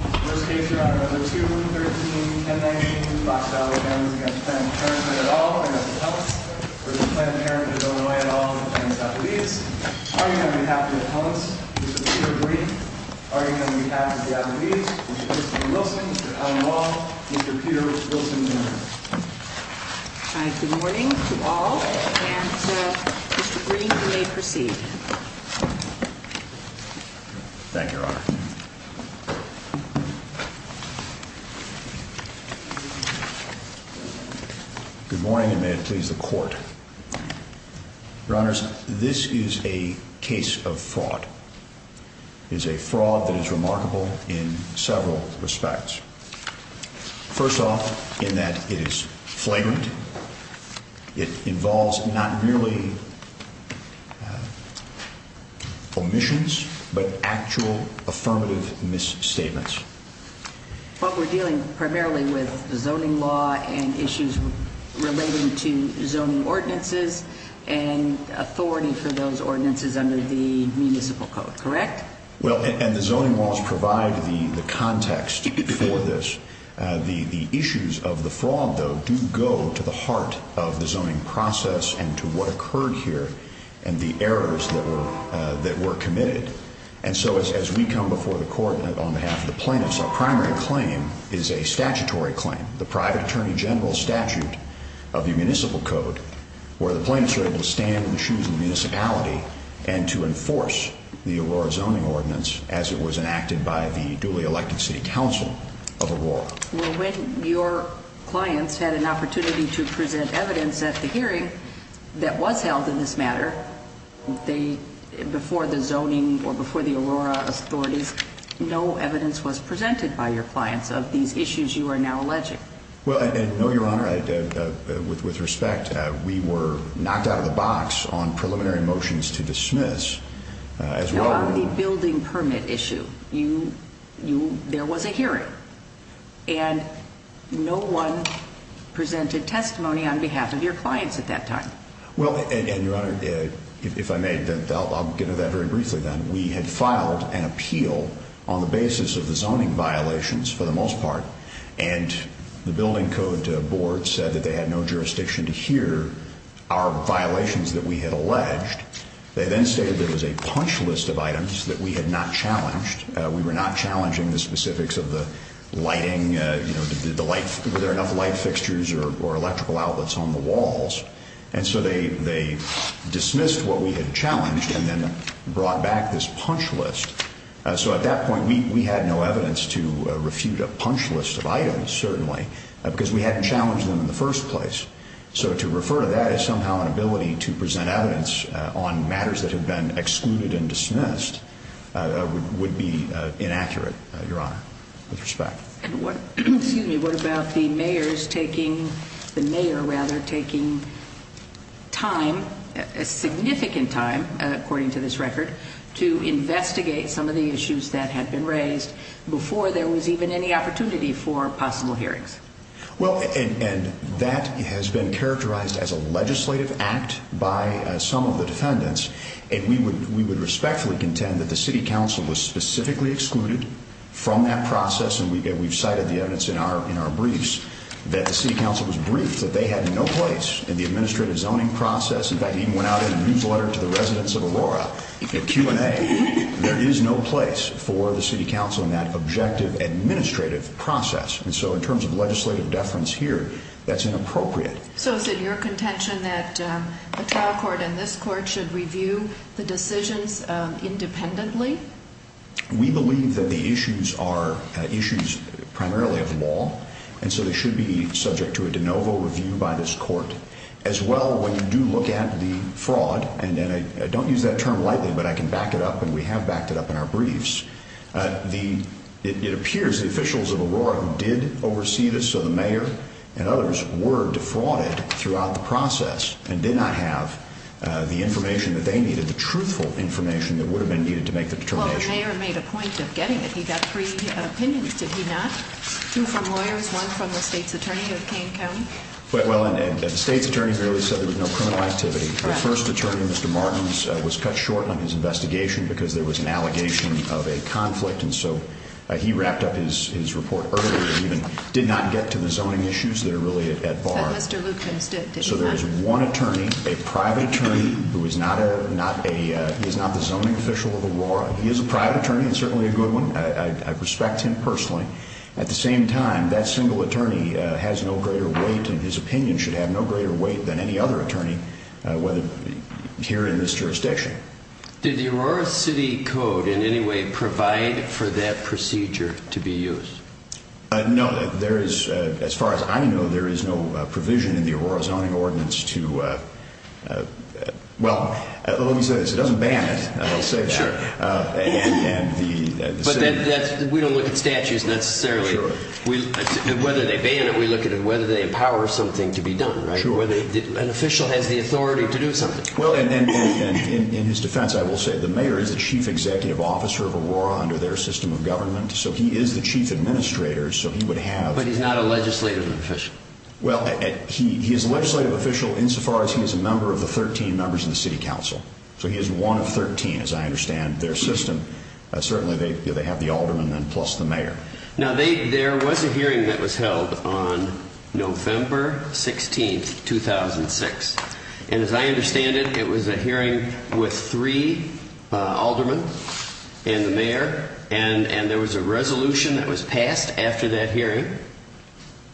First case, Your Honor, under 2-13-1019, Black Valley Families Against Planned Parenthood, et al., against the Appalachians, v. Planned Parenthood of Illinois, et al., against the Appalachians. Arguing on behalf of the Appalachians, Mr. Peter Green. Arguing on behalf of the Appalachians, Mr. Christopher Wilson, Mr. Alan Wall, Mr. Peter Wilson, et al. Good morning to all, and Mr. Green, you may proceed. Thank you, Your Honor. Good morning, and may it please the Court. Your Honors, this is a case of fraud. It is a fraud that is remarkable in several respects. First off, in that it is flagrant. It involves not merely omissions, but actual affirmative misstatements. But we're dealing primarily with zoning law and issues relating to zoning ordinances and authority for those ordinances under the Municipal Code, correct? Well, and the zoning laws provide the context for this. The issues of the fraud, though, do go to the heart of the zoning process and to what occurred here and the errors that were committed. And so, as we come before the Court on behalf of the plaintiffs, our primary claim is a statutory claim. The private attorney general statute of the Municipal Code, where the plaintiffs are able to stand in the shoes of the municipality and to enforce the Aurora zoning ordinance as it was enacted by the duly elected city council of Aurora. Well, when your clients had an opportunity to present evidence at the hearing that was held in this matter, before the zoning or before the Aurora authorities, no evidence was presented by your clients of these issues you are now alleging. Well, and no, Your Honor, with respect, we were knocked out of the box on preliminary motions to dismiss. Now, on the building permit issue, there was a hearing. And no one presented testimony on behalf of your clients at that time. Well, and, Your Honor, if I may, I'll get into that very briefly then. We had filed an appeal on the basis of the zoning violations, for the most part, and the building code board said that they had no jurisdiction to hear our violations that we had alleged. They then stated there was a punch list of items that we had not challenged. We were not challenging the specifics of the lighting, you know, were there enough light fixtures or electrical outlets on the walls? And so they dismissed what we had challenged and then brought back this punch list. So at that point, we had no evidence to refute a punch list of items, certainly, because we hadn't challenged them in the first place. So to refer to that as somehow an ability to present evidence on matters that have been excluded and dismissed would be inaccurate, Your Honor, with respect. And what about the mayor taking time, significant time, according to this record, to investigate some of the issues that had been raised before there was even any opportunity for possible hearings? Well, and that has been characterized as a legislative act by some of the defendants. And we would respectfully contend that the city council was specifically excluded from that process. And we've cited the evidence in our briefs that the city council was briefed that they had no place in the administrative zoning process. In fact, it even went out in a newsletter to the residents of Aurora, a Q&A. There is no place for the city council in that objective administrative process. And so in terms of legislative deference here, that's inappropriate. So is it your contention that a trial court and this court should review the decisions independently? We believe that the issues are issues primarily of law, and so they should be subject to a de novo review by this court. As well, when you do look at the fraud, and I don't use that term lightly, but I can back it up, and we have backed it up in our briefs. It appears the officials of Aurora did oversee this, so the mayor and others were defrauded throughout the process and did not have the information that they needed, the truthful information that would have been needed to make the determination. Well, the mayor made a point of getting it. He got three opinions, did he not? Two from lawyers, one from the state's attorney of Kane County. Well, and the state's attorney clearly said there was no criminal activity. The first attorney, Mr. Martins, was cut short on his investigation because there was an allegation of a conflict, and so he wrapped up his report early and even did not get to the zoning issues that are really at bar. But Mr. Lukens, did he not? So there is one attorney, a private attorney, who is not the zoning official of Aurora. He is a private attorney and certainly a good one. I respect him personally. At the same time, that single attorney has no greater weight and his opinion should have no greater weight than any other attorney here in this jurisdiction. Did the Aurora City Code in any way provide for that procedure to be used? No. As far as I know, there is no provision in the Aurora Zoning Ordinance to, well, let me say this. It doesn't ban it, I'll say that. But we don't look at statutes necessarily. Whether they ban it, we look at whether they empower something to be done, right? The authority to do something. Well, in his defense, I will say the mayor is the chief executive officer of Aurora under their system of government, so he is the chief administrator, so he would have... But he's not a legislative official. Well, he is a legislative official insofar as he is a member of the 13 members of the city council. So he is one of 13, as I understand their system. Certainly, they have the alderman and plus the mayor. Now, there was a hearing that was held on November 16, 2006. And as I understand it, it was a hearing with three aldermen and the mayor, and there was a resolution that was passed after that hearing.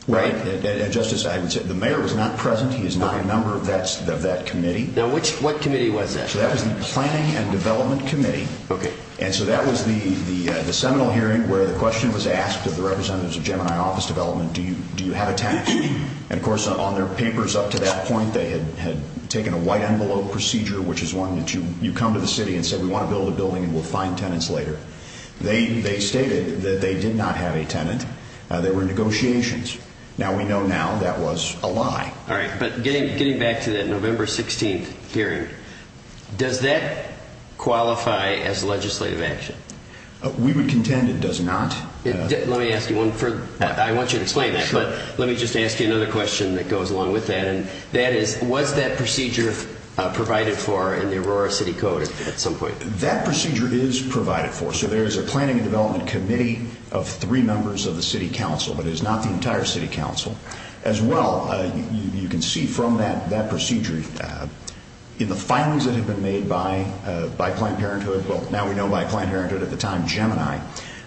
Right. And, Justice, the mayor was not present. He is not a member of that committee. Now, what committee was that? So that was the Planning and Development Committee. Okay. And so that was the seminal hearing where the question was asked of the representatives of Gemini Office Development, do you have a tenant? And, of course, on their papers up to that point, they had taken a white envelope procedure, which is one that you come to the city and say we want to build a building and we'll find tenants later. They stated that they did not have a tenant. There were negotiations. Now we know now that was a lie. All right, but getting back to that November 16 hearing, does that qualify as legislative action? We would contend it does not. Let me ask you one further. I want you to explain that, but let me just ask you another question that goes along with that, and that is was that procedure provided for in the Aurora City Code at some point? That procedure is provided for. So there is a Planning and Development Committee of three members of the city council, but it is not the entire city council. As well, you can see from that procedure, in the filings that had been made by Planned Parenthood, well, now we know by Planned Parenthood at the time, Gemini,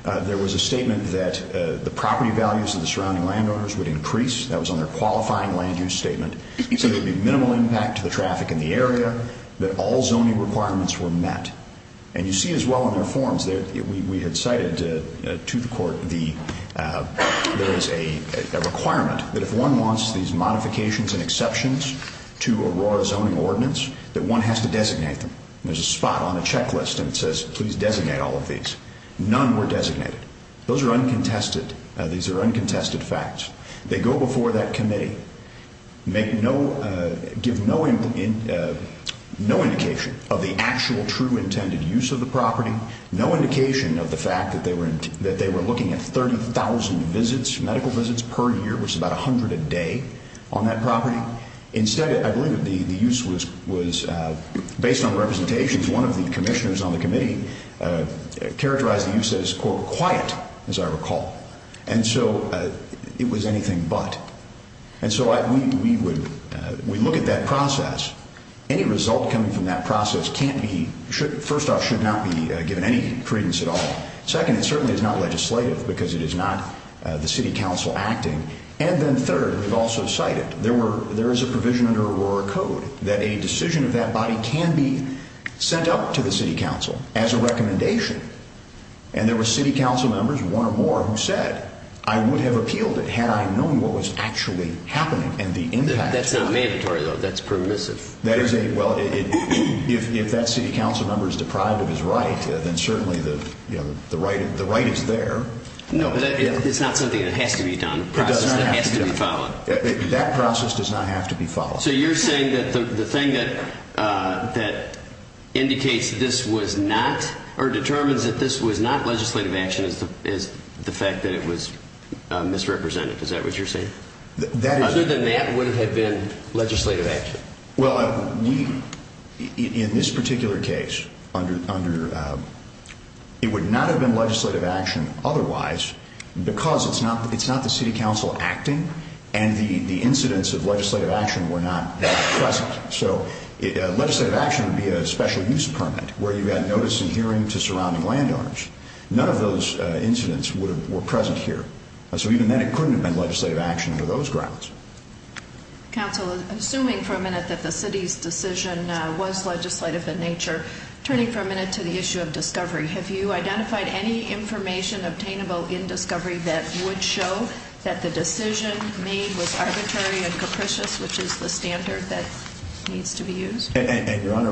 there was a statement that the property values of the surrounding landowners would increase. That was on their qualifying land use statement. So there would be minimal impact to the traffic in the area, that all zoning requirements were met. And you see as well in their forms, we had cited to the court there is a requirement that if one wants these modifications and exceptions to Aurora's zoning ordinance, that one has to designate them. There's a spot on a checklist and it says, please designate all of these. None were designated. Those are uncontested. These are uncontested facts. They go before that committee, give no indication of the actual true intended use of the property, no indication of the fact that they were looking at 30,000 visits, medical visits per year, which is about 100 a day on that property. Instead, I believe the use was based on representations. One of the commissioners on the committee characterized the use as, quote, quiet, as I recall. And so it was anything but. And so we look at that process. Any result coming from that process can't be, first off, should not be given any credence at all. Second, it certainly is not legislative because it is not the city council acting. And then third, we've also cited there is a provision under Aurora code that a decision of that body can be sent out to the city council as a recommendation. And there were city council members, one or more, who said, I would have appealed it had I known what was actually happening and the impact. That's not mandatory, though. That's permissive. That is a, well, if that city council member is deprived of his right, then certainly the right is there. No, but it's not something that has to be done. It doesn't have to be done. It has to be followed. That process does not have to be followed. So you're saying that the thing that indicates this was not or determines that this was not legislative action is the fact that it was misrepresented. Is that what you're saying? Other than that, would it have been legislative action? Well, in this particular case, it would not have been legislative action otherwise because it's not the city council acting and the incidents of legislative action were not present. So legislative action would be a special use permit where you've got notice and hearing to surrounding landowners. None of those incidents were present here. So even then, it couldn't have been legislative action for those grounds. Council, assuming for a minute that the city's decision was legislative in nature, turning for a minute to the issue of discovery, have you identified any information obtainable in discovery that would show that the decision made was arbitrary and capricious, which is the standard that needs to be used? Your Honor,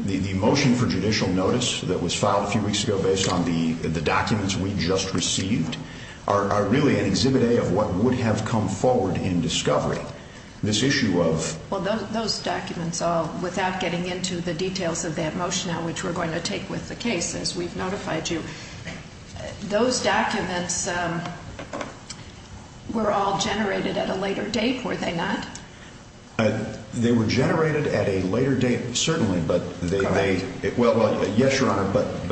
the motion for judicial notice that was filed a few weeks ago based on the documents we just received are really an exhibit A of what would have come forward in discovery. Well, those documents all, without getting into the details of that motion, which we're going to take with the case as we've notified you, those documents were all generated at a later date, were they not? They were generated at a later date, certainly. Correct. Well, yes, Your Honor, but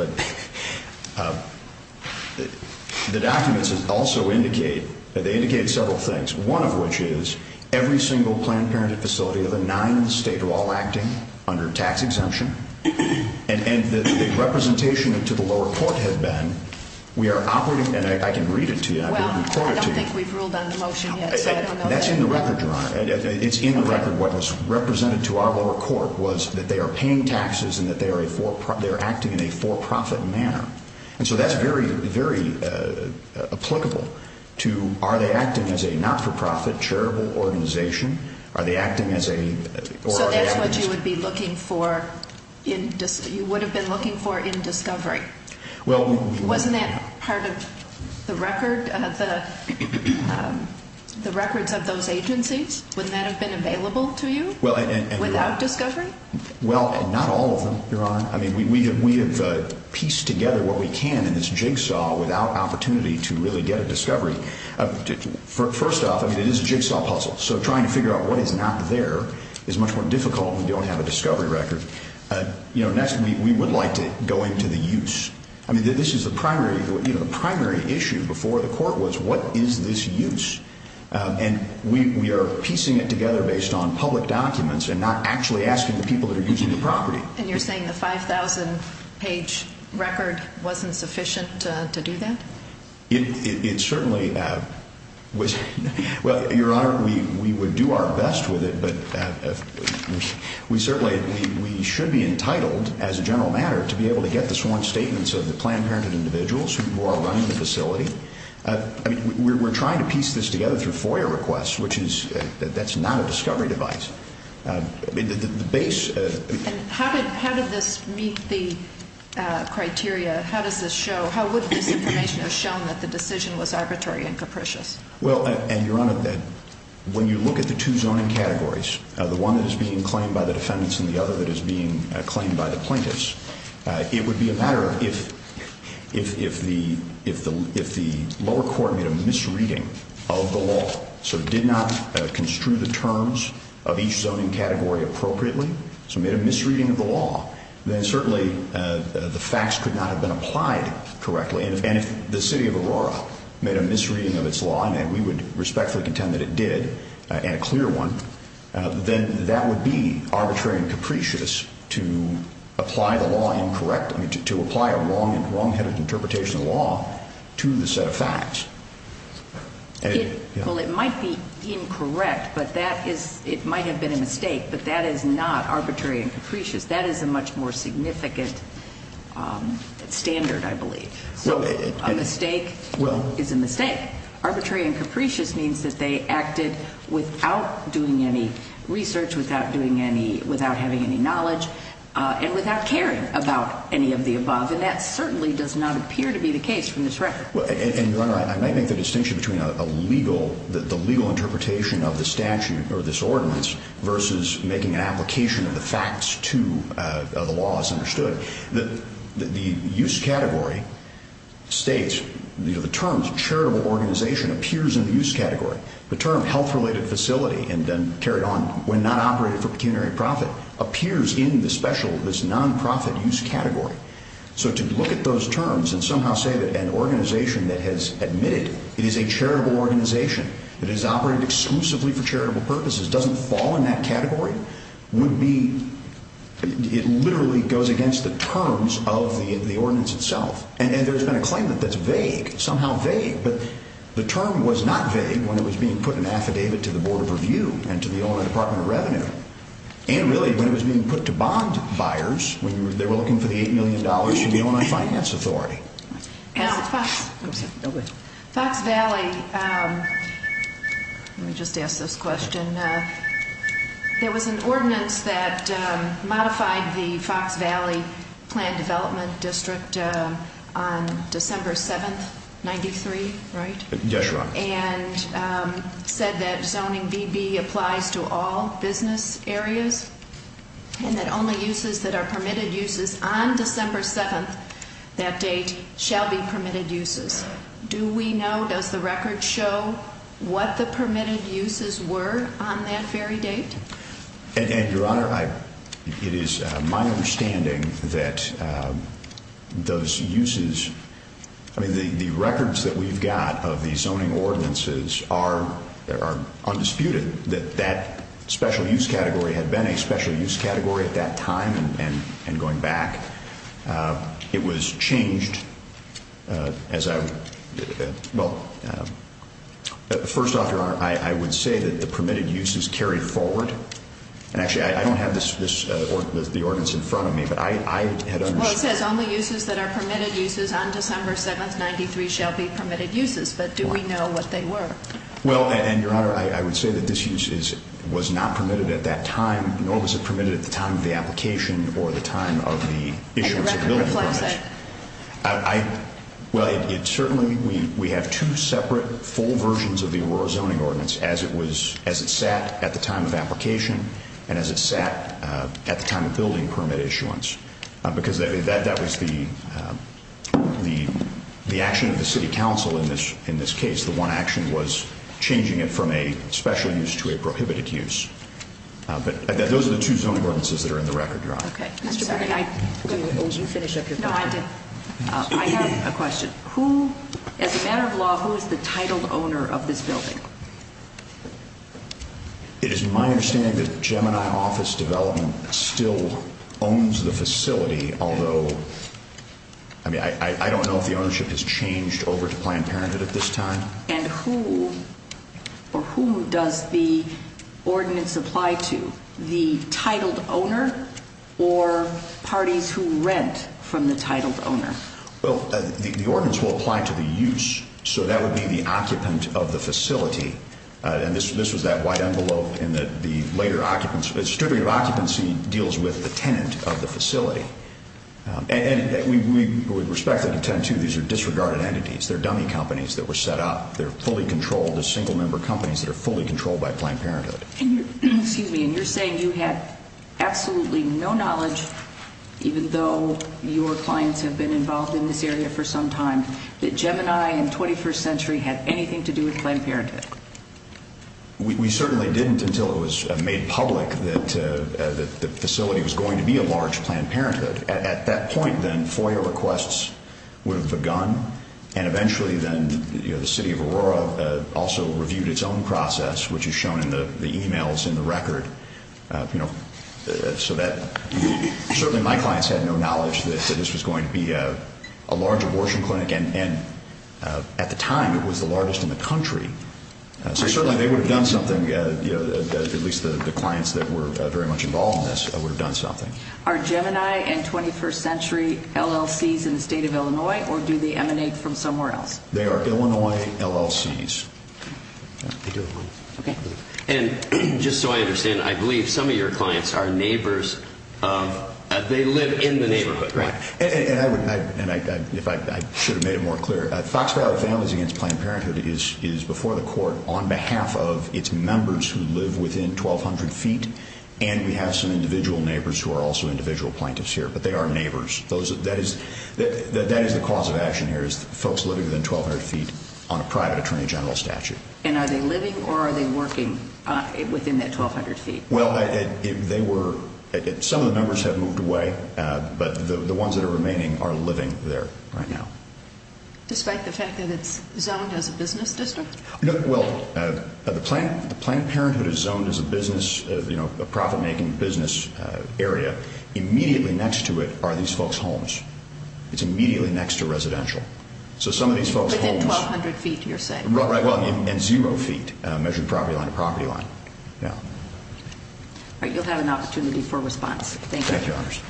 the documents also indicate, they indicate several things, one of which is every single Planned Parenthood facility of the nine states are all acting under tax exemption, and the representation to the lower court had been, we are operating, and I can read it to you, I can record it to you. Well, I don't think we've ruled on the motion yet, so I don't know. That's in the record, Your Honor. It's in the record. What was represented to our lower court was that they are paying taxes and that they are acting in a for-profit manner. And so that's very, very applicable to are they acting as a not-for-profit charitable organization, are they acting as a So that's what you would be looking for in, you would have been looking for in discovery. Well, Wasn't that part of the record, the records of those agencies, wouldn't that have been available to you without discovery? Well, and not all of them, Your Honor. I mean, we have pieced together what we can in this jigsaw without opportunity to really get a discovery. First off, I mean, it is a jigsaw puzzle, so trying to figure out what is not there is much more difficult if you don't have a discovery record. Next, we would like to go into the use. I mean, this is the primary issue before the court was what is this use. And we are piecing it together based on public documents and not actually asking the people that are using the property. And you're saying the 5,000-page record wasn't sufficient to do that? It certainly was. Well, Your Honor, we would do our best with it, but we certainly, we should be entitled as a general matter to be able to get the sworn statements of the Planned Parenthood individuals who are running the facility. I mean, we're trying to piece this together through FOIA requests, which is, that's not a discovery device. How did this meet the criteria? How does this show, how would this information have shown that the decision was arbitrary and capricious? Well, and Your Honor, when you look at the two zoning categories, the one that is being claimed by the defendants and the other that is being claimed by the plaintiffs, it would be a matter of if the lower court made a misreading of the law, so did not construe the terms of each zoning category appropriately, so made a misreading of the law, then certainly the facts could not have been applied correctly. And if the city of Aurora made a misreading of its law, and we would respectfully contend that it did, and a clear one, then that would be arbitrary and capricious to apply the law incorrectly, to apply a wrongheaded interpretation of the law to the set of facts. Well, it might be incorrect, but that is, it might have been a mistake, but that is not arbitrary and capricious. That is a much more significant standard, I believe. So a mistake is a mistake. Arbitrary and capricious means that they acted without doing any research, without doing any, without having any knowledge, and without caring about any of the above, and that certainly does not appear to be the case from this record. And, Your Honor, I might make the distinction between a legal, the legal interpretation of the statute or this ordinance versus making an application of the facts to the law as understood. The use category states, you know, the terms charitable organization appears in the use category. The term health-related facility, and then carried on, when not operated for pecuniary profit, appears in the special, this nonprofit use category. So to look at those terms and somehow say that an organization that has admitted it is a charitable organization, that it is operated exclusively for charitable purposes, doesn't fall in that category, would be, it literally goes against the terms of the ordinance itself. And there's been a claim that that's vague, somehow vague, but the term was not vague when it was being put in an affidavit to the Board of Review and to the Illinois Department of Revenue. And really, when it was being put to bond buyers, when they were looking for the $8 million, the Illinois Finance Authority. Now, Fox Valley, let me just ask this question. There was an ordinance that modified the Fox Valley Plan Development District on December 7th, 93, right? Yes, Your Honor. And said that zoning BB applies to all business areas, and that only uses that are permitted uses on December 7th, that date, shall be permitted uses. Do we know, does the record show what the permitted uses were on that very date? And, Your Honor, it is my understanding that those uses, I mean, the records that we've got of the zoning ordinances are undisputed, that that special use category had been a special use category at that time and going back. It was changed as I, well, first off, Your Honor, I would say that the permitted uses carried forward. And actually, I don't have the ordinance in front of me, but I had understood. Well, it says only uses that are permitted uses on December 7th, 93, shall be permitted uses. But do we know what they were? Well, and, Your Honor, I would say that this use was not permitted at that time, nor was it permitted at the time of the application or the time of the issuance of building permits. And the record reflects that. I, well, it certainly, we have two separate full versions of the Aurora Zoning Ordinance, as it was, as it sat at the time of application, and as it sat at the time of building permit issuance. Because that was the action of the city council in this case. The one action was changing it from a special use to a prohibited use. But those are the two zoning ordinances that are in the record, Your Honor. Okay. Mr. Bergen, I'm going to let you finish up your question. No, I did. I have a question. Who, as a matter of law, who is the titled owner of this building? It is my understanding that Gemini Office Development still owns the facility, although, I mean, I don't know if the ownership has changed over to Planned Parenthood at this time. And who, or who does the ordinance apply to? The titled owner or parties who rent from the titled owner? Well, the ordinance will apply to the use. So that would be the occupant of the facility. And this was that white envelope in that the later occupants, distributive occupancy deals with the tenant of the facility. And we respect the intent, too. These are disregarded entities. They're dummy companies that were set up. They're fully controlled. They're single-member companies that are fully controlled by Planned Parenthood. Excuse me. And you're saying you had absolutely no knowledge, even though your clients have been involved in this area for some time, that Gemini and 21st Century had anything to do with Planned Parenthood? We certainly didn't until it was made public that the facility was going to be a large Planned Parenthood. At that point, then, FOIA requests would have begun. And eventually, then, the city of Aurora also reviewed its own process, which is shown in the e-mails in the record. So certainly my clients had no knowledge that this was going to be a large abortion clinic. And at the time, it was the largest in the country. So certainly they would have done something, at least the clients that were very much involved in this would have done something. Are Gemini and 21st Century LLCs in the state of Illinois, or do they emanate from somewhere else? They are Illinois LLCs. Okay. And just so I understand, I believe some of your clients are neighbors of, they live in the neighborhood, right? And I would, and I should have made it more clear, Fox Valley Families Against Planned Parenthood is before the court on behalf of its members who live within 1,200 feet, and we have some individual neighbors who are also individual plaintiffs here, but they are neighbors. That is the cause of action here, is folks living within 1,200 feet on a private attorney general statute. And are they living or are they working within that 1,200 feet? Well, they were, some of the members have moved away, but the ones that are remaining are living there right now. Despite the fact that it's zoned as a business district? Well, the Planned Parenthood is zoned as a business, you know, a profit-making business area. Immediately next to it are these folks' homes. It's immediately next to residential. So some of these folks' homes. Within 1,200 feet, you're saying? Right, well, and zero feet measuring property line to property line. Yeah. All right, you'll have an opportunity for response. Thank you. Thank you, Your Honors.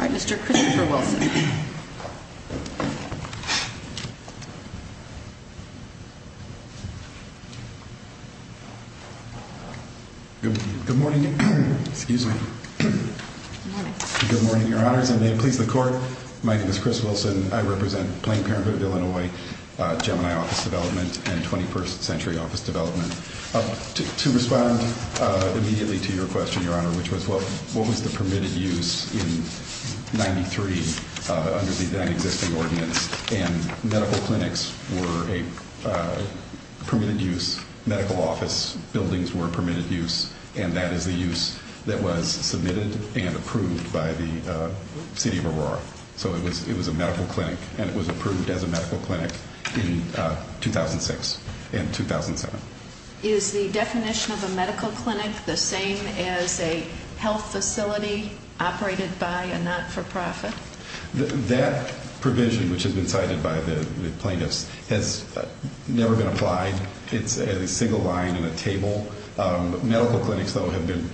All right, Mr. Christopher Wilson. Good morning. Excuse me. Good morning, Your Honors, and may it please the Court. My name is Chris Wilson. I represent Planned Parenthood of Illinois, Gemini Office Development and 21st Century Office Development. To respond immediately to your question, Your Honor, which was what was the permitted use in 93 under the then-existing ordinance, and medical clinics were a permitted use, medical office buildings were permitted use, and that is the use that was submitted and approved by the city of Aurora. So it was a medical clinic, and it was approved as a medical clinic in 2006 and 2007. Is the definition of a medical clinic the same as a health facility operated by a not-for-profit? That provision, which has been cited by the plaintiffs, has never been applied. It's a single line in a table. Medical clinics, though, have been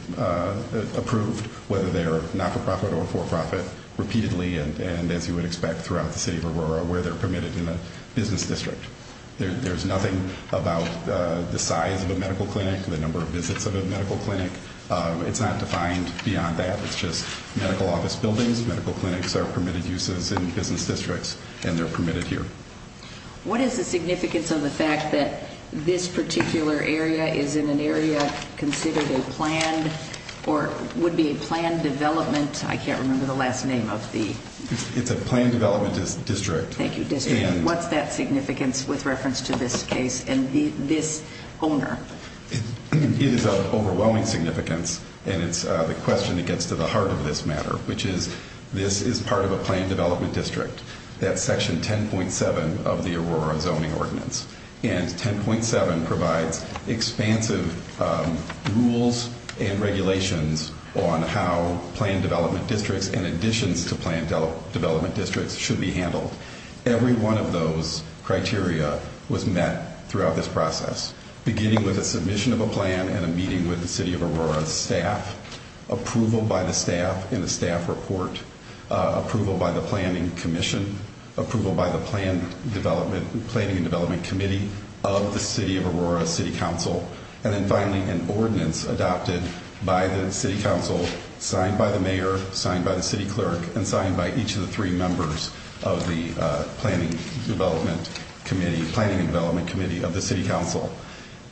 approved, whether they're not-for-profit or for-profit, repeatedly and, as you would expect, throughout the city of Aurora where they're permitted in a business district. There's nothing about the size of a medical clinic, the number of visits of a medical clinic. It's not defined beyond that. It's just medical office buildings, medical clinics are permitted uses in business districts, and they're permitted here. What is the significance of the fact that this particular area is in an area considered a planned or would be a planned development? I can't remember the last name of the- It's a planned development district. Thank you, district. What's that significance with reference to this case and this owner? It is of overwhelming significance, and it's the question that gets to the heart of this matter, which is this is part of a planned development district. That's Section 10.7 of the Aurora Zoning Ordinance. And 10.7 provides expansive rules and regulations on how planned development districts and additions to planned development districts should be handled. Every one of those criteria was met throughout this process, beginning with a submission of a plan and a meeting with the City of Aurora staff, approval by the staff in a staff report, approval by the Planning Commission, approval by the Planning and Development Committee of the City of Aurora City Council, and then finally an ordinance adopted by the City Council, signed by the mayor, signed by the city clerk, and signed by each of the three members of the Planning and Development Committee of the City Council.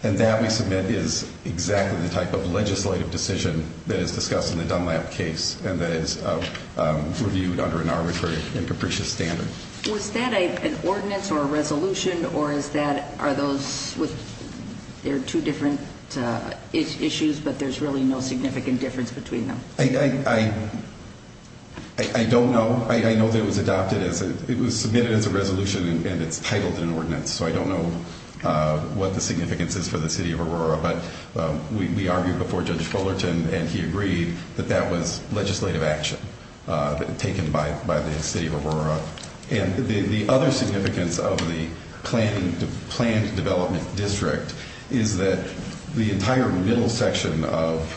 And that, we submit, is exactly the type of legislative decision that is discussed in the Dunlap case and that is reviewed under an arbitrary and capricious standard. Was that an ordinance or a resolution, or are those two different issues, but there's really no significant difference between them? I don't know. I know that it was submitted as a resolution and it's titled an ordinance, so I don't know what the significance is for the City of Aurora, but we argued before Judge Fullerton and he agreed that that was legislative action taken by the City of Aurora. And the other significance of the planned development district is that the entire middle section of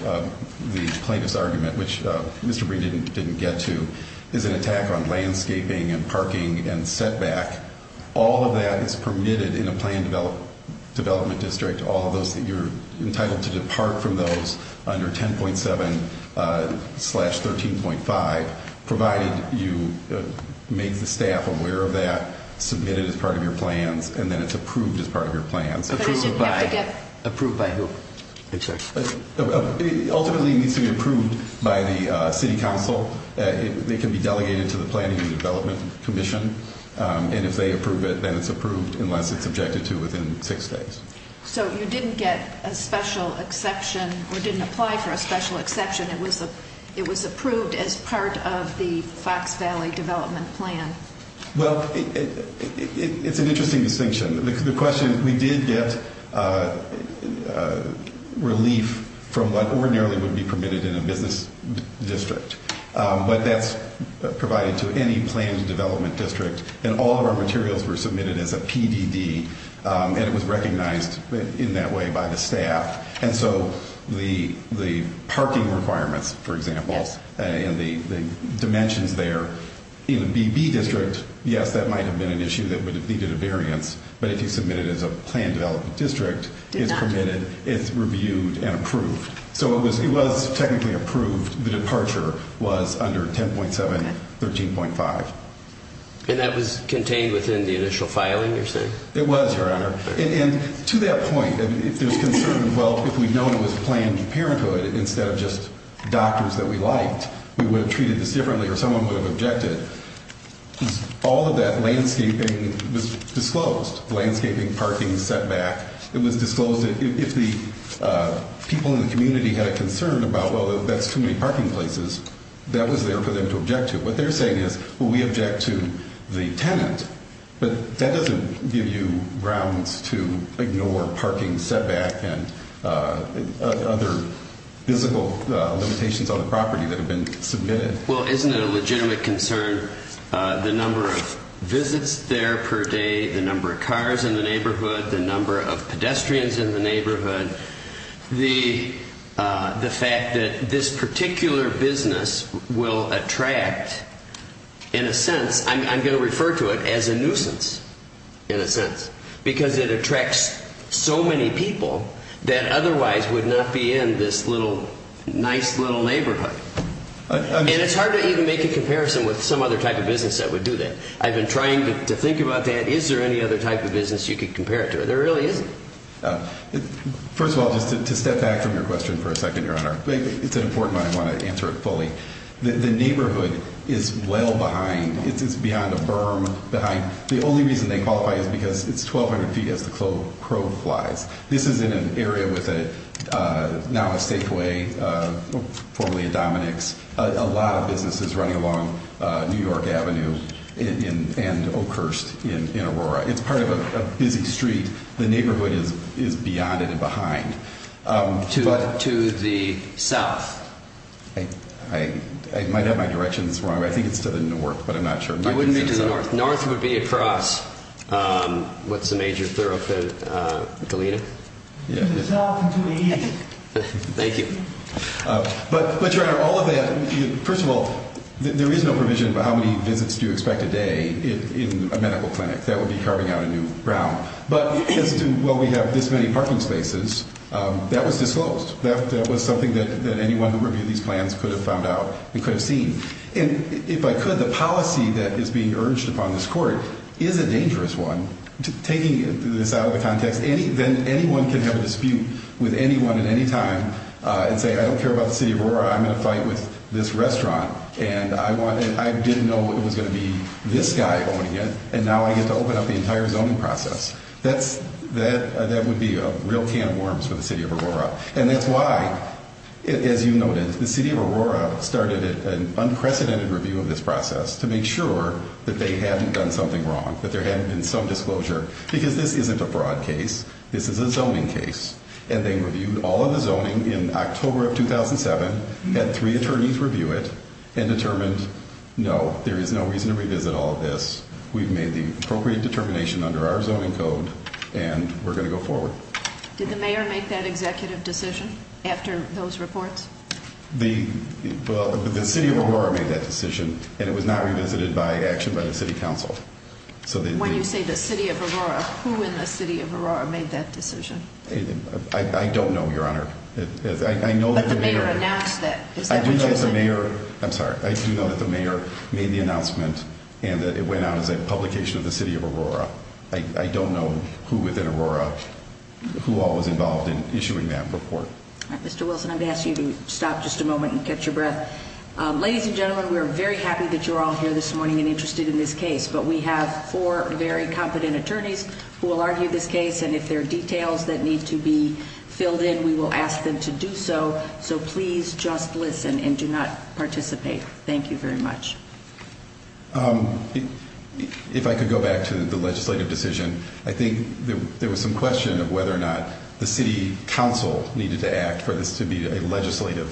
the plaintiff's argument, which Mr. Breed didn't get to, is an attack on landscaping and parking and setback. All of that is permitted in a planned development district, all of those that you're entitled to depart from those under 10.7 slash 13.5, provided you make the staff aware of that, submit it as part of your plans, and then it's approved as part of your plans. Approved by who? Ultimately it needs to be approved by the City Council. It can be delegated to the Planning and Development Commission. And if they approve it, then it's approved unless it's objected to within six days. So you didn't get a special exception or didn't apply for a special exception. It was approved as part of the Fox Valley Development Plan. Well, it's an interesting distinction. The question is we did get relief from what ordinarily would be permitted in a business district, but that's provided to any planned development district, and all of our materials were submitted as a PDD, and it was recognized in that way by the staff. And so the parking requirements, for example, and the dimensions there, in a BB district, yes, that might have been an issue that would have needed a variance, but if you submit it as a planned development district, it's permitted, it's reviewed, and approved. So it was technically approved. The departure was under 10.7, 13.5. And that was contained within the initial filing, you're saying? It was, Your Honor. And to that point, if there's concern, well, if we'd known it was planned parenthood instead of just doctors that we liked, we would have treated this differently or someone would have objected. All of that landscaping was disclosed. Landscaping, parking, setback. It was disclosed that if the people in the community had a concern about, well, that's too many parking places, that was there for them to object to. What they're saying is, well, we object to the tenant, but that doesn't give you grounds to ignore parking setback and other physical limitations on the property that have been submitted. Well, isn't it a legitimate concern, the number of visits there per day, the number of cars in the neighborhood, the number of pedestrians in the neighborhood, the fact that this particular business will attract, in a sense, I'm going to refer to it as a nuisance, in a sense, because it attracts so many people that otherwise would not be in this nice little neighborhood. And it's hard to even make a comparison with some other type of business that would do that. I've been trying to think about that. Is there any other type of business you could compare it to? There really isn't. First of all, just to step back from your question for a second, Your Honor, it's an important one. I want to answer it fully. The neighborhood is well behind. It's beyond a berm. The only reason they qualify is because it's 1,200 feet as the crow flies. This is in an area with now a stakeway, formerly a Dominick's. A lot of business is running along New York Avenue and Oakhurst in Aurora. It's part of a busy street. The neighborhood is beyond it and behind. To the south. I might have my directions wrong. I think it's to the north, but I'm not sure. North would be across what's the major thoroughfare, Galena? To the south and to the east. Thank you. But, Your Honor, all of that, first of all, there is no provision about how many visits do you expect a day in a medical clinic. That would be carving out a new ground. But as to, well, we have this many parking spaces, that was disclosed. That was something that anyone who reviewed these plans could have found out and could have seen. And if I could, the policy that is being urged upon this Court is a dangerous one. Taking this out of the context, anyone can have a dispute with anyone at any time and say, I don't care about the City of Aurora. I'm going to fight with this restaurant. And I didn't know it was going to be this guy owning it. And now I get to open up the entire zoning process. That would be a real can of worms for the City of Aurora. And that's why, as you noted, the City of Aurora started an unprecedented review of this process to make sure that they hadn't done something wrong, that there hadn't been some disclosure. Because this isn't a fraud case. This is a zoning case. And they reviewed all of the zoning in October of 2007, had three attorneys review it, and determined, no, there is no reason to revisit all of this. We've made the appropriate determination under our zoning code, and we're going to go forward. Did the mayor make that executive decision after those reports? The City of Aurora made that decision, and it was not revisited by action by the City Council. When you say the City of Aurora, who in the City of Aurora made that decision? I don't know, Your Honor. But the mayor announced that. I do know that the mayor made the announcement and that it went out as a publication of the City of Aurora. I don't know who within Aurora, who all was involved in issuing that report. Mr. Wilson, I'm going to ask you to stop just a moment and catch your breath. Ladies and gentlemen, we're very happy that you're all here this morning and interested in this case. But we have four very competent attorneys who will argue this case. And if there are details that need to be filled in, we will ask them to do so. So please just listen and do not participate. Thank you very much. If I could go back to the legislative decision, I think there was some question of whether or not the city council needed to act for this to be a legislative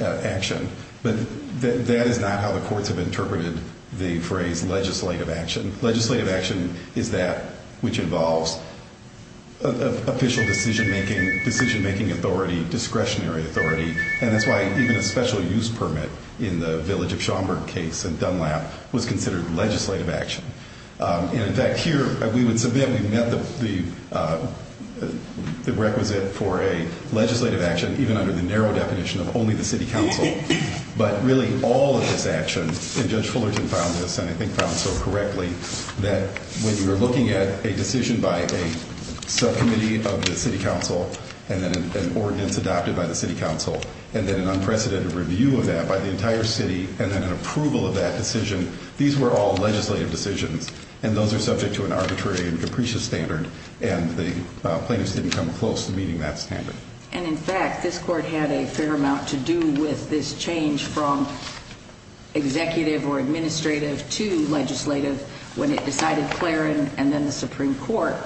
action. But that is not how the courts have interpreted the phrase legislative action. Legislative action is that which involves official decision-making, decision-making authority, discretionary authority. And that's why even a special use permit in the Village of Schaumburg case in Dunlap was considered legislative action. And, in fact, here we would submit we met the requisite for a legislative action even under the narrow definition of only the city council. But really all of this action, and Judge Fullerton found this, and I think found it so correctly, that when you're looking at a decision by a subcommittee of the city council, and then an ordinance adopted by the city council, and then an unprecedented review of that by the entire city, and then an approval of that decision, these were all legislative decisions. And those are subject to an arbitrary and capricious standard. And the plaintiffs didn't come close to meeting that standard. And, in fact, this court had a fair amount to do with this change from executive or administrative to legislative when it decided Clarence and then the Supreme Court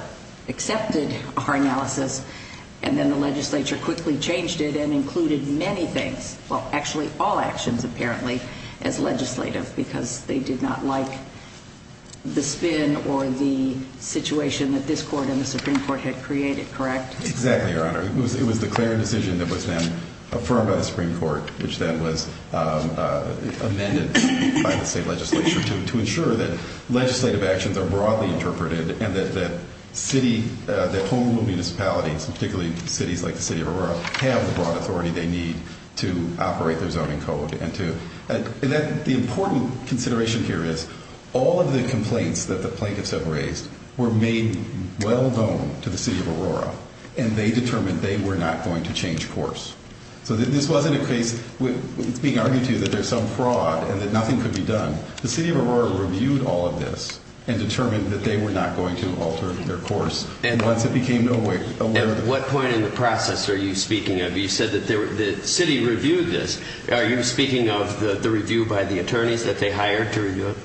accepted our analysis. And then the legislature quickly changed it and included many things, well, actually all actions, apparently, as legislative because they did not like the spin or the situation that this court and the Supreme Court had created, correct? Exactly, Your Honor. It was the Clarence decision that was then affirmed by the Supreme Court, which then was amended by the state legislature to ensure that legislative actions are broadly interpreted and that city, that whole municipalities, particularly cities like the city of Aurora, have the broad authority they need to operate their zoning code. And the important consideration here is all of the complaints that the plaintiffs have raised were made well known to the city of Aurora, and they determined they were not going to change course. So this wasn't a case being argued to that there's some fraud and that nothing could be done. The city of Aurora reviewed all of this and determined that they were not going to alter their course. And once it became aware of it... At what point in the process are you speaking of? You said that the city reviewed this. Are you speaking of the review by the attorneys that they hired to review it?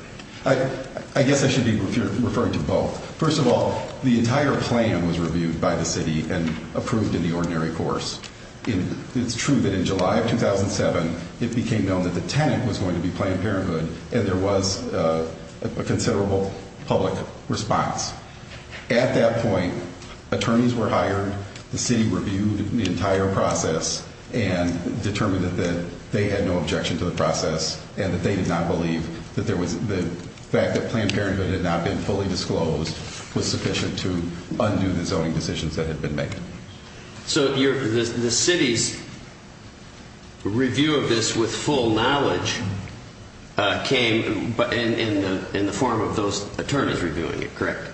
I guess I should be referring to both. First of all, the entire plan was reviewed by the city and approved in the ordinary course. It's true that in July of 2007, it became known that the tenant was going to be Planned Parenthood, and there was a considerable public response. At that point, attorneys were hired, the city reviewed the entire process and determined that they had no objection to the process and that they did not believe that the fact that Planned Parenthood had not been fully disclosed was sufficient to undo the zoning decisions that had been made. So the city's review of this with full knowledge came in the form of those attorneys reviewing it, correct?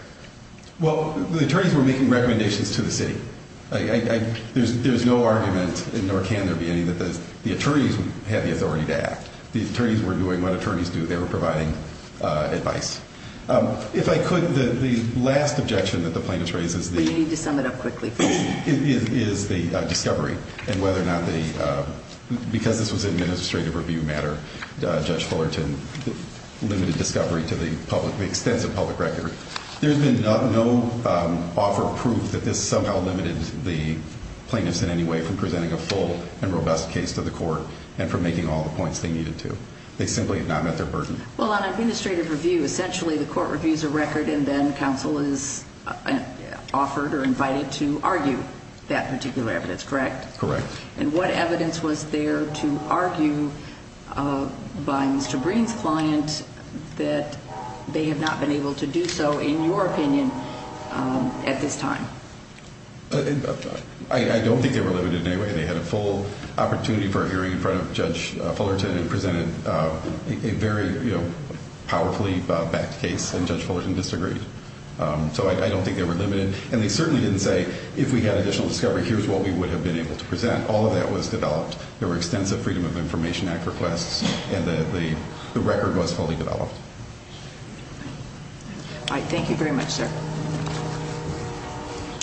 Well, the attorneys were making recommendations to the city. There's no argument, nor can there be any, that the attorneys had the authority to act. The attorneys were doing what attorneys do. They were providing advice. If I could, the last objection that the plaintiffs raised is the discovery, and whether or not they, because this was an administrative review matter, Judge Fullerton limited discovery to the extensive public record. There's been no offer of proof that this somehow limited the plaintiffs in any way from presenting a full and robust case to the court and from making all the points they needed to. They simply have not met their burden. Well, on administrative review, essentially the court reviews a record and then counsel is offered or invited to argue that particular evidence, correct? Correct. And what evidence was there to argue by Mr. Breen's client that they have not been able to do so, in your opinion, at this time? I don't think they were limited in any way. They had a full opportunity for a hearing in front of Judge Fullerton and presented a very powerfully backed case, and Judge Fullerton disagreed. So I don't think they were limited. And they certainly didn't say, if we had additional discovery, here's what we would have been able to present. All of that was developed. There were extensive Freedom of Information Act requests, and the record was fully developed. All right. Thank you very much, sir.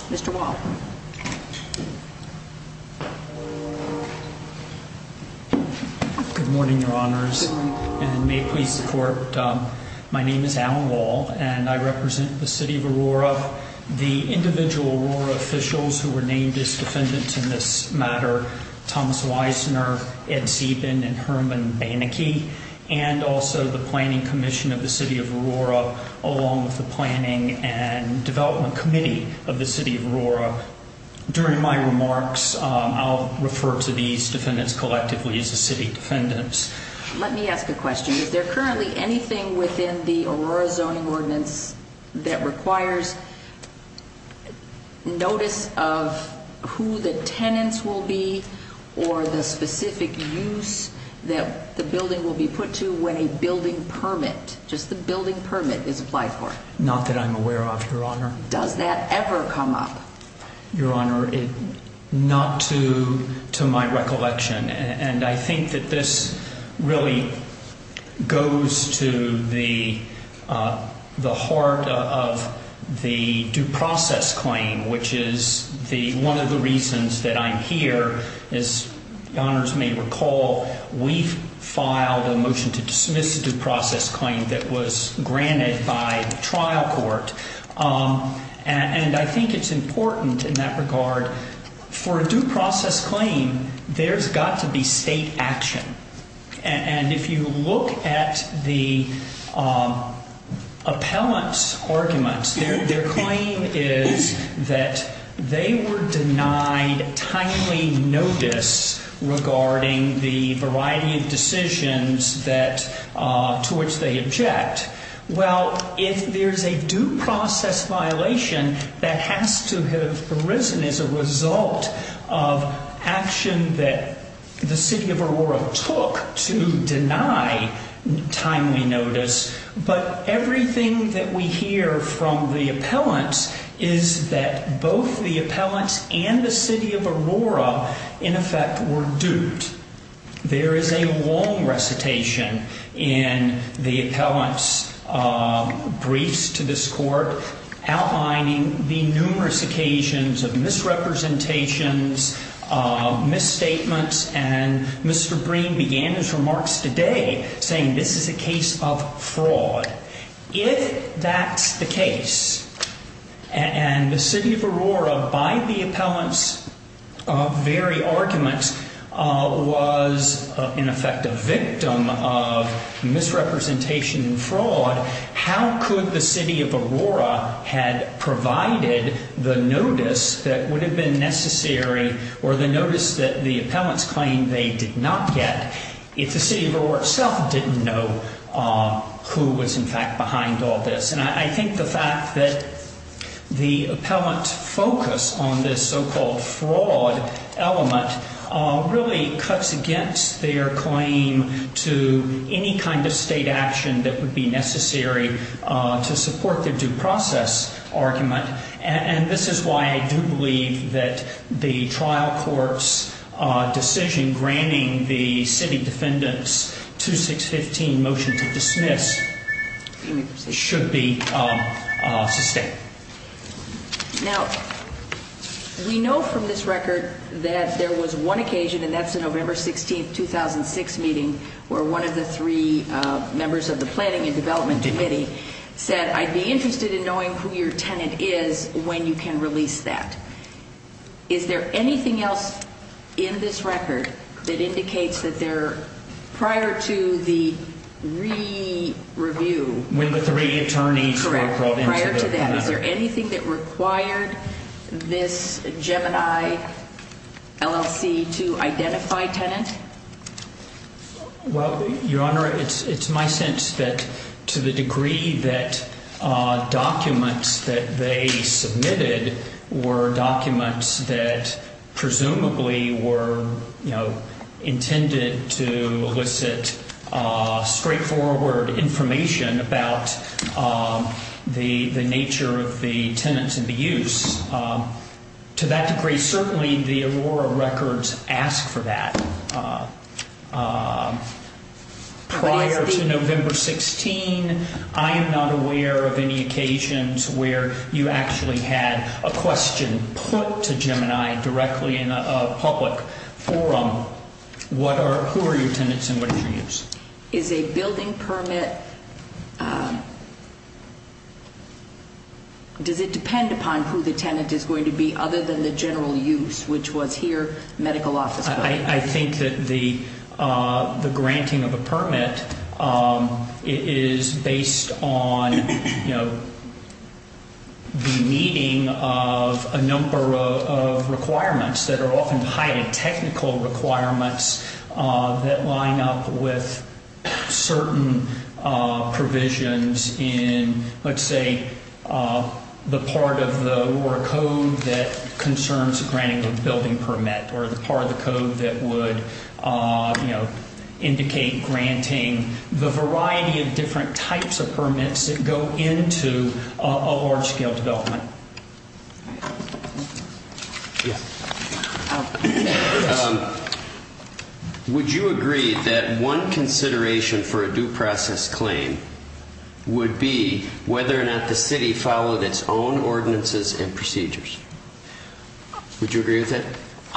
Mr. Wall. Good morning, Your Honors. Good morning. And may it please the Court, my name is Alan Wall, and I represent the City of Aurora. The individual Aurora officials who were named as defendants in this matter, Thomas Weissner, Ed Sieben, and Herman Banneke, and also the Planning Commission of the City of Aurora, along with the Planning and Development Committee of the City of Aurora. During my remarks, I'll refer to these defendants collectively as the city defendants. Let me ask a question. Is there currently anything within the Aurora Zoning Ordinance that requires notice of who the tenants will be or the specific use that the building will be put to when a building permit, just the building permit is applied for? Not that I'm aware of, Your Honor. Does that ever come up? Your Honor, not to my recollection. And I think that this really goes to the heart of the due process claim, which is one of the reasons that I'm here is, Your Honors may recall, we filed a motion to dismiss a due process claim that was granted by trial court. And I think it's important in that regard. For a due process claim, there's got to be state action. And if you look at the appellant's arguments, their claim is that they were denied timely notice regarding the variety of decisions to which they object. Well, if there's a due process violation, that has to have arisen as a result of action that the city of Aurora took to deny timely notice. But everything that we hear from the appellants is that both the appellants and the city of Aurora, in effect, were duped. There is a long recitation in the appellant's briefs to this court outlining the numerous occasions of misrepresentations, misstatements, and Mr. Breen began his remarks today saying this is a case of fraud. If that's the case, and the city of Aurora, by the appellant's very arguments, was, in effect, a victim of misrepresentation and fraud, how could the city of Aurora had provided the notice that would have been necessary or the notice that the appellants claimed they did not get if the city of Aurora itself didn't know who was, in fact, behind all this? And I think the fact that the appellant's focus on this so-called fraud element really cuts against their claim to any kind of state action that would be necessary to support their due process argument. And this is why I do believe that the trial court's decision in granting the City Defendant's 2615 motion to dismiss should be sustained. Now, we know from this record that there was one occasion, and that's the November 16, 2006 meeting, where one of the three members of the Planning and Development Committee said, I'd be interested in knowing who your tenant is when you can release that. Is there anything else in this record that indicates that prior to the re-review? When the three attorneys were brought in. Correct. Prior to that. Is there anything that required this Gemini LLC to identify tenant? Well, Your Honor, it's my sense that to the degree that documents that they submitted were documents that presumably were intended to elicit straightforward information about the nature of the tenants and the use, to that degree certainly the Aurora records ask for that. Prior to November 16, I am not aware of any occasions where you actually had a question put to Gemini directly in a public forum. Who are your tenants and what is your use? Is a building permit, does it depend upon who the tenant is going to be other than the general use, which was here medical office? I think that the granting of a permit is based on the meeting of a number of requirements that are often highly technical requirements that line up with certain provisions in, let's say, the part of the Aurora Code that concerns granting a building permit or the part of the code that would indicate granting the variety of different types of permits that go into a large-scale development. Would you agree that one consideration for a due process claim would be whether or not the city followed its own ordinances and procedures? Would you agree with that?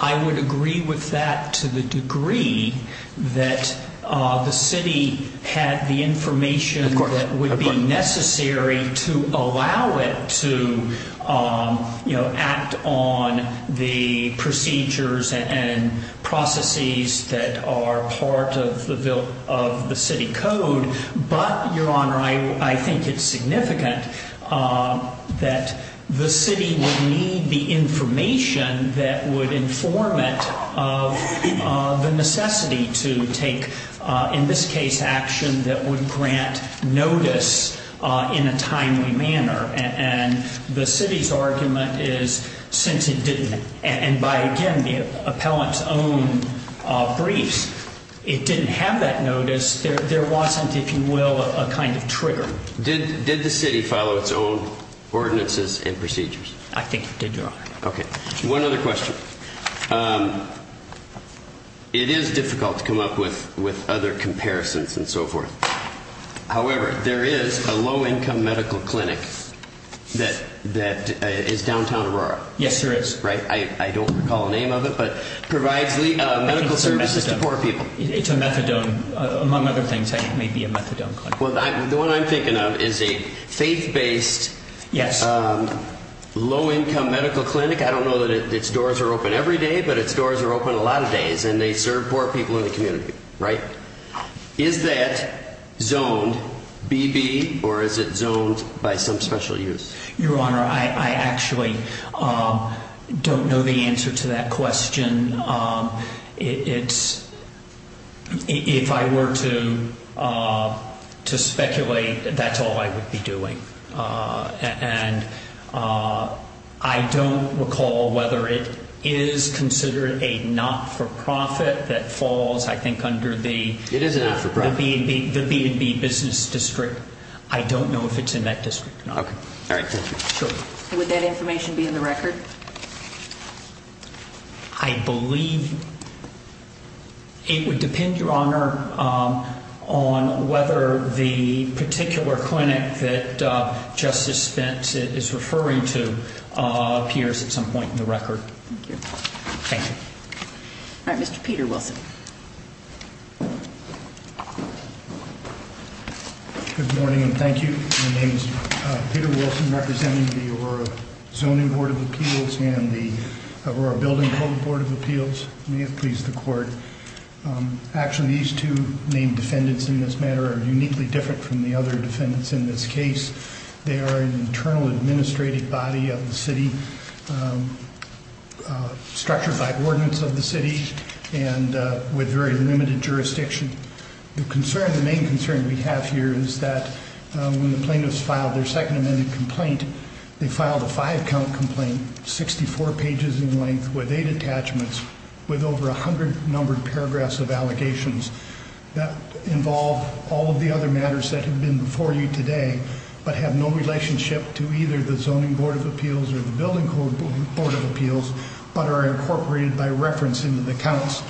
I would agree with that to the degree that the city had the information that would be necessary to allow it to act on the procedures and processes that are part of the city code. But, Your Honor, I think it's significant that the city would need the information that would inform it of the necessity to take, in this case, action that would grant notice in a timely manner. And the city's argument is since it didn't, and by, again, the appellant's own briefs, it didn't have that notice, there wasn't, if you will, a kind of trigger. Did the city follow its own ordinances and procedures? I think it did, Your Honor. Okay. One other question. It is difficult to come up with other comparisons and so forth. However, there is a low-income medical clinic that is downtown Aurora. Yes, there is. Right? I don't recall the name of it, but it provides medical services to poor people. It's a methadone. Among other things, it may be a methadone clinic. Well, the one I'm thinking of is a faith-based, low-income medical clinic. I don't know that its doors are open every day, but its doors are open a lot of days, and they serve poor people in the community. Right? Is that zoned BB or is it zoned by some special use? Your Honor, I actually don't know the answer to that question. If I were to speculate, that's all I would be doing. And I don't recall whether it is considered a not-for-profit that falls, I think, under the B&B business district. I don't know if it's in that district or not. Okay. All right. Would that information be in the record? I believe it would depend, Your Honor, on whether the particular clinic that Justice Spence is referring to appears at some point in the record. Thank you. Thank you. All right. Mr. Peter Wilson. Good morning, and thank you. My name is Peter Wilson, representing the Aurora Zoning Board of Appeals and the Aurora Building Code Board of Appeals. May it please the Court. Actually, these two named defendants in this matter are uniquely different from the other defendants in this case. They are an internal administrative body of the city, structured by ordinance of the city and with very limited jurisdiction. The main concern we have here is that when the plaintiffs filed their second amended complaint, they filed a five-count complaint, 64 pages in length, with eight attachments, with over 100 numbered paragraphs of allegations that involve all of the other matters that have been before you today, but have no relationship to either the Zoning Board of Appeals or the Building Code Board of Appeals, but are incorporated by reference into the counts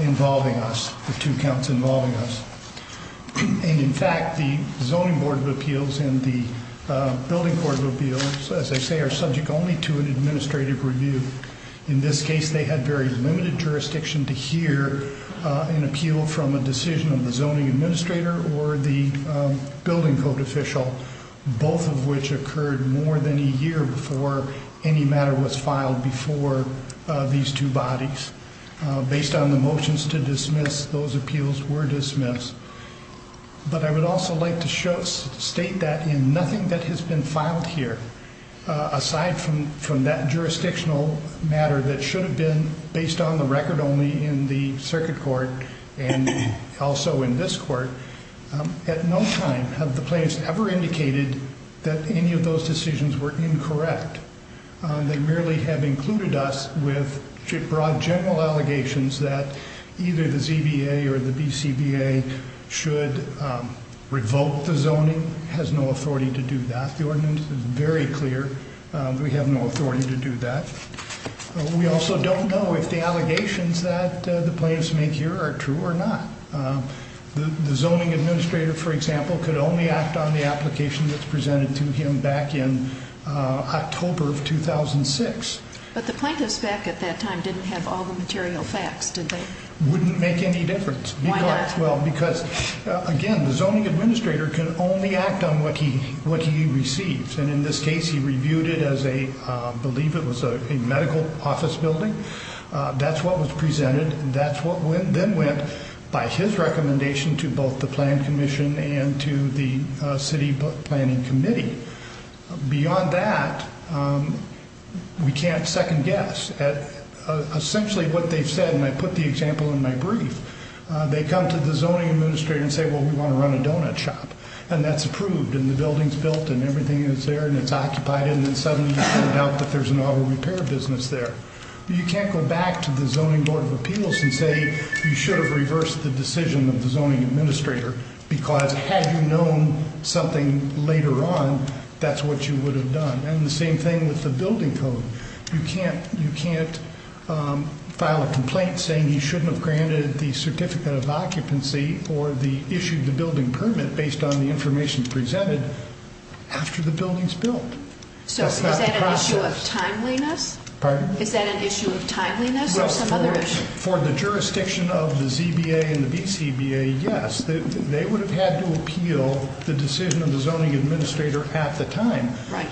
involving us, the two counts involving us. And, in fact, the Zoning Board of Appeals and the Building Board of Appeals, as I say, are subject only to an administrative review. In this case, they had very limited jurisdiction to hear an appeal from a decision of the zoning administrator or the building code official, both of which occurred more than a year before any matter was filed before these two bodies. Based on the motions to dismiss, those appeals were dismissed. But I would also like to state that in nothing that has been filed here, aside from that jurisdictional matter that should have been based on the record only in the circuit court and also in this court, at no time have the plaintiffs ever indicated that any of those decisions were incorrect. They merely have included us with broad general allegations that either the ZBA or the BCBA should revoke the zoning, has no authority to do that. The ordinance is very clear that we have no authority to do that. We also don't know if the allegations that the plaintiffs make here are true or not. The zoning administrator, for example, could only act on the application that's presented to him back in October of 2006. But the plaintiffs back at that time didn't have all the material facts, did they? Wouldn't make any difference. Why not? Well, because, again, the zoning administrator can only act on what he receives. And in this case, he reviewed it as a, I believe it was a medical office building. That's what was presented. That's what then went by his recommendation to both the plan commission and to the city planning committee. Beyond that, we can't second guess. Essentially what they've said, and I put the example in my brief, they come to the zoning administrator and say, well, we want to run a donut shop. And that's approved, and the building's built, and everything is there, and it's occupied. And then suddenly you find out that there's an auto repair business there. You can't go back to the zoning board of appeals and say you should have reversed the decision of the zoning administrator because had you known something later on, that's what you would have done. And the same thing with the building code. You can't file a complaint saying you shouldn't have granted the certificate of occupancy or issued the building permit based on the information presented after the building's built. So is that an issue of timeliness? Pardon? Is that an issue of timeliness or some other issue? For the jurisdiction of the ZBA and the BCBA, yes. They would have had to appeal the decision of the zoning administrator at the time.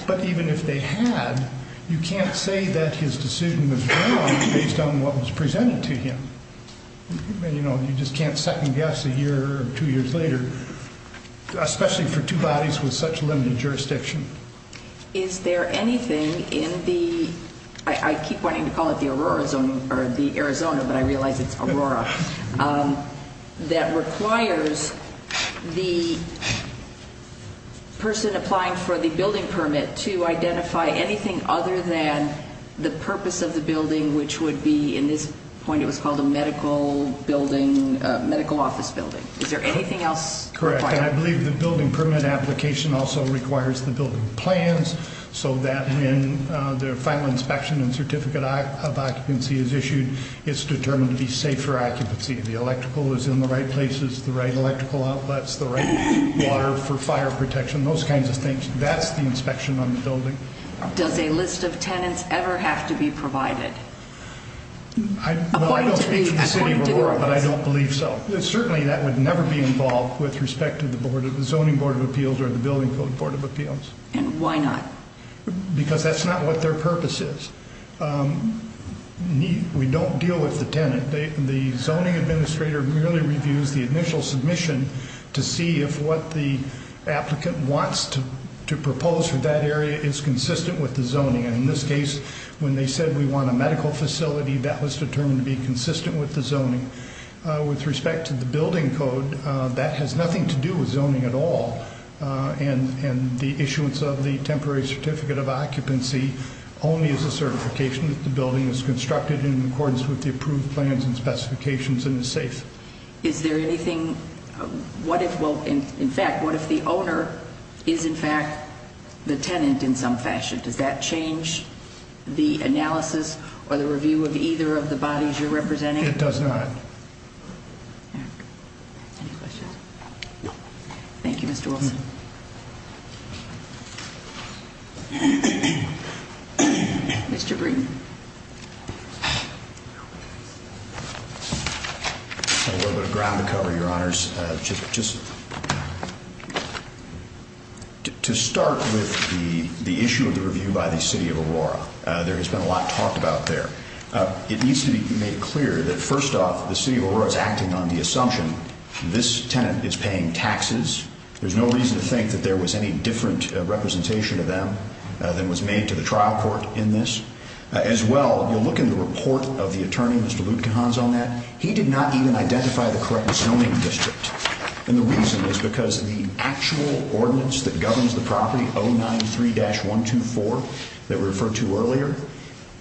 But even if they had, you can't say that his decision was wrong based on what was presented to him. You just can't second guess a year or two years later, especially for two bodies with such limited jurisdiction. Is there anything in the, I keep wanting to call it the Arizona, but I realize it's Aurora, that requires the person applying for the building permit to identify anything other than the purpose of the building, which would be in this point it was called a medical office building. Is there anything else required? Correct, and I believe the building permit application also requires the building plans so that when the final inspection and certificate of occupancy is issued, it's determined to be safe for occupancy. The electrical is in the right places, the right electrical outlets, the right water for fire protection, those kinds of things. That's the inspection on the building. Does a list of tenants ever have to be provided? I don't speak for the city of Aurora, but I don't believe so. Certainly that would never be involved with respect to the Zoning Board of Appeals or the Building Code Board of Appeals. And why not? Because that's not what their purpose is. We don't deal with the tenant. The zoning administrator merely reviews the initial submission to see if what the applicant wants to propose for that area is consistent with the zoning, and in this case, when they said we want a medical facility, that was determined to be consistent with the zoning. With respect to the building code, that has nothing to do with zoning at all, and the issuance of the temporary certificate of occupancy only is a certification that the building is constructed in accordance with the approved plans and specifications and is safe. Is there anything, what if, well, in fact, what if the owner is, in fact, the tenant in some fashion? Does that change the analysis or the review of either of the bodies you're representing? It does not. Any questions? No. Thank you, Mr. Wilson. Mr. Breeden. A little bit of ground to cover, Your Honors. Just to start with the issue of the review by the City of Aurora, there has been a lot talked about there. It needs to be made clear that, first off, the City of Aurora is acting on the assumption this tenant is paying taxes. There's no reason to think that there was any different representation of them than was made to the trial court in this. As well, you'll look in the report of the attorney, Mr. Lutkehans, on that. He did not even identify the correct zoning district. And the reason is because the actual ordinance that governs the property, 093-124, that we referred to earlier,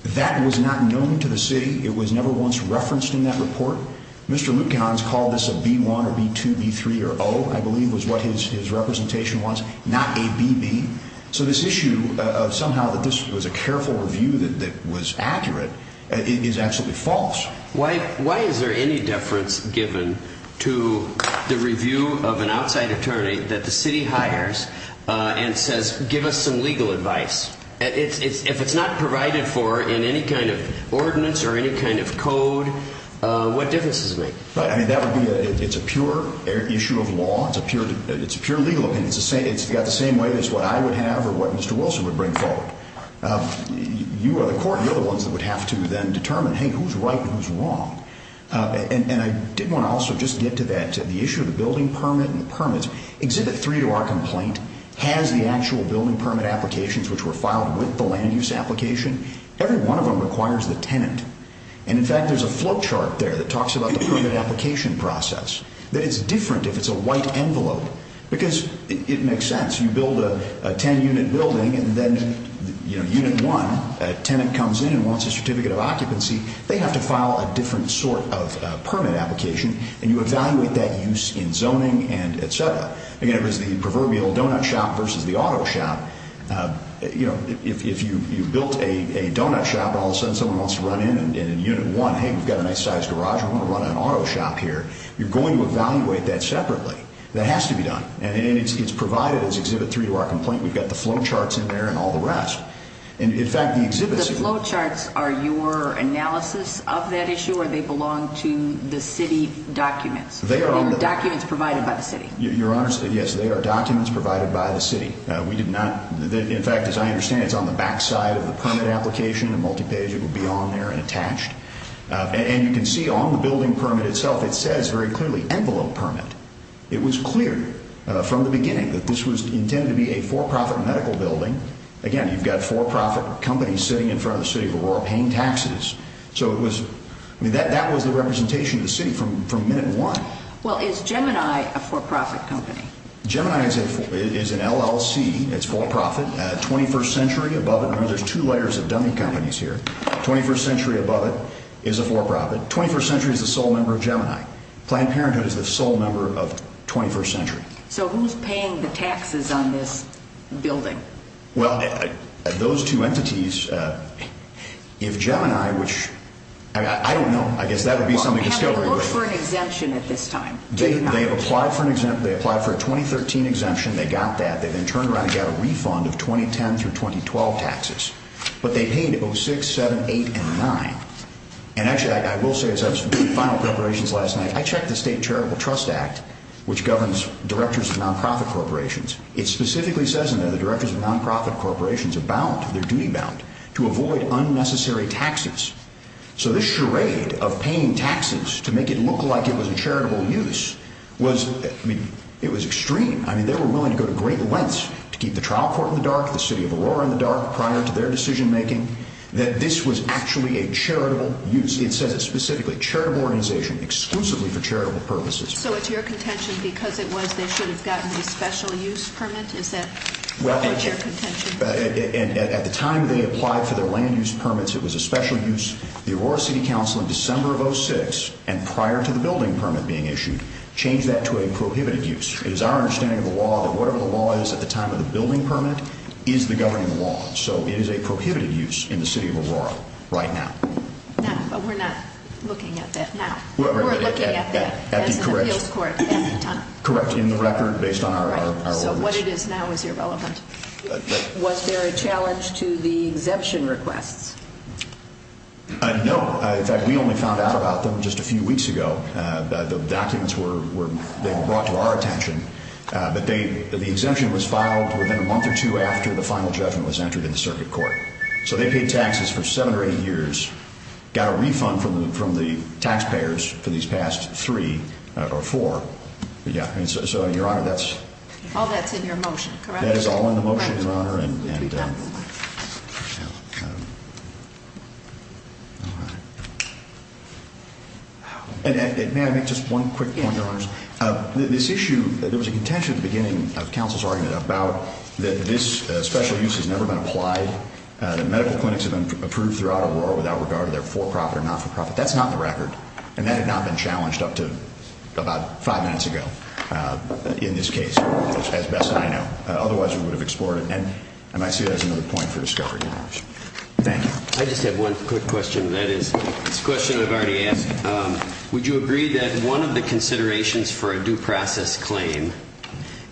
that was not known to the city. It was never once referenced in that report. Mr. Lutkehans called this a B1 or B2, B3, or O, I believe was what his representation was, not a BB. So this issue of somehow that this was a careful review that was accurate is absolutely false. Why is there any deference given to the review of an outside attorney that the city hires and says, give us some legal advice? If it's not provided for in any kind of ordinance or any kind of code, what difference does it make? That would be a pure issue of law. It's a pure legal opinion. It's got the same weight as what I would have or what Mr. Wilson would bring forward. You are the court. You're the ones that would have to then determine, hey, who's right and who's wrong? And I did want to also just get to that, the issue of the building permit and the permits. Exhibit 3 to our complaint has the actual building permit applications which were filed with the land use application. Every one of them requires the tenant. And, in fact, there's a flowchart there that talks about the permit application process, that it's different if it's a white envelope because it makes sense. You build a ten-unit building and then unit one, a tenant comes in and wants a certificate of occupancy, they have to file a different sort of permit application, and you evaluate that use in zoning and et cetera. Again, it was the proverbial donut shop versus the auto shop. If you built a donut shop and all of a sudden someone wants to run in and in unit one, hey, we've got a nice-sized garage, we want to run an auto shop here, you're going to evaluate that separately. That has to be done. And it's provided as Exhibit 3 to our complaint. We've got the flowcharts in there and all the rest. And, in fact, the exhibits- The flowcharts are your analysis of that issue, or they belong to the city documents? They are- They're documents provided by the city. Your Honor, yes, they are documents provided by the city. We did not, in fact, as I understand it, it's on the backside of the permit application, a multi-page, it would be on there and attached. And you can see on the building permit itself, it says very clearly, envelope permit. It was clear from the beginning that this was intended to be a for-profit medical building. Again, you've got for-profit companies sitting in front of the city of Aurora paying taxes. So it was, I mean, that was the representation of the city from minute one. Well, is Gemini a for-profit company? Gemini is an LLC. It's for-profit. 21st Century, above it, there's two layers of dummy companies here. 21st Century, above it, is a for-profit. 21st Century is the sole member of Gemini. Planned Parenthood is the sole member of 21st Century. So who's paying the taxes on this building? Well, those two entities, if Gemini, which, I don't know, I guess that would be something to scurry with. Well, we haven't looked for an exemption at this time. They have applied for a 2013 exemption. They got that. They then turned around and got a refund of 2010 through 2012 taxes. But they paid 06, 07, 08, and 09. And actually, I will say this. I was doing final preparations last night. I checked the State Charitable Trust Act, which governs directors of non-profit corporations. It specifically says in there the directors of non-profit corporations are bound, they're duty-bound, to avoid unnecessary taxes. So this charade of paying taxes to make it look like it was a charitable use was, I mean, it was extreme. I mean, they were willing to go to great lengths to keep the trial court in the dark, the city of Aurora in the dark prior to their decision-making, that this was actually a charitable use. It says it specifically, charitable organization, exclusively for charitable purposes. So it's your contention because it was, they should have gotten a special use permit? Is that your contention? At the time they applied for their land use permits, it was a special use. The Aurora City Council in December of 06, and prior to the building permit being issued, changed that to a prohibited use. It is our understanding of the law that whatever the law is at the time of the building permit is the governing law. So it is a prohibited use in the city of Aurora right now. Now, but we're not looking at that now. We're looking at that as an appeals court at the time. Correct, in the record based on our orders. So what it is now is irrelevant. Was there a challenge to the exemption requests? No. In fact, we only found out about them just a few weeks ago. The documents were brought to our attention. The exemption was filed within a month or two after the final judgment was entered in the circuit court. So they paid taxes for seven or eight years, got a refund from the taxpayers for these past three or four. So, Your Honor, that's... All that's in your motion, correct? That is all in the motion, Your Honor. May I make just one quick point, Your Honors? This issue, there was a contention at the beginning of counsel's argument about that this special use has never been applied, that medical clinics have been approved throughout Aurora without regard to their for-profit or not-for-profit. That's not in the record. And that had not been challenged up to about five minutes ago in this case, as best I know. Otherwise, we would have explored it. And I see that as another point for discovery. Thank you. I just have one quick question. That is, it's a question I've already asked. Would you agree that one of the considerations for a due process claim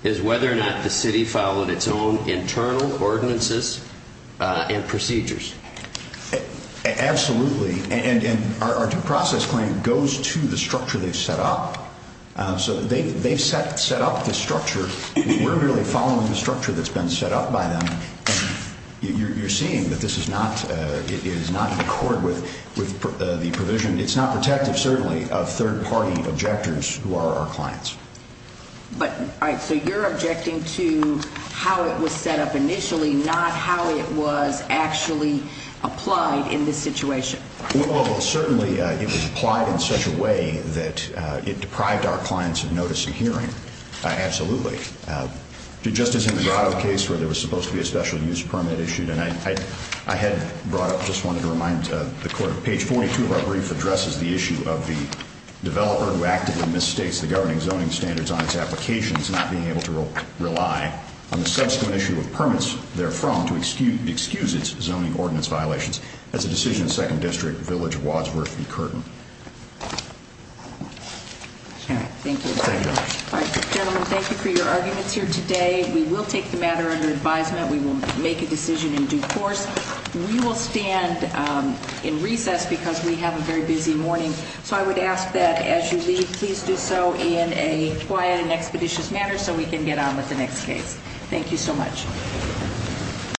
is whether or not the city followed its own internal ordinances and procedures? Absolutely. And our due process claim goes to the structure they've set up. So they've set up the structure. We're really following the structure that's been set up by them. You're seeing that this is not in accord with the provision. It's not protective, certainly, of third-party objectors who are our clients. All right. So you're objecting to how it was set up initially, not how it was actually applied in this situation. Well, certainly it was applied in such a way that it deprived our clients of notice and hearing. Absolutely. Just as in the Grotto case where there was supposed to be a special use permit issued, and I had brought up, just wanted to remind the court, page 42 of our brief addresses the issue of the developer who actively misstates the governing zoning standards on its applications, not being able to rely on the subsequent issue of permits therefrom to excuse its zoning ordinance violations. That's a decision of 2nd District, Village, Wadsworth v. Curtin. All right. Thank you. Thank you. All right, gentlemen, thank you for your arguments here today. We will take the matter under advisement. We will make a decision in due course. We will stand in recess because we have a very busy morning. So I would ask that as you leave, please do so in a quiet and expeditious manner so we can get on with the next case. Thank you so much.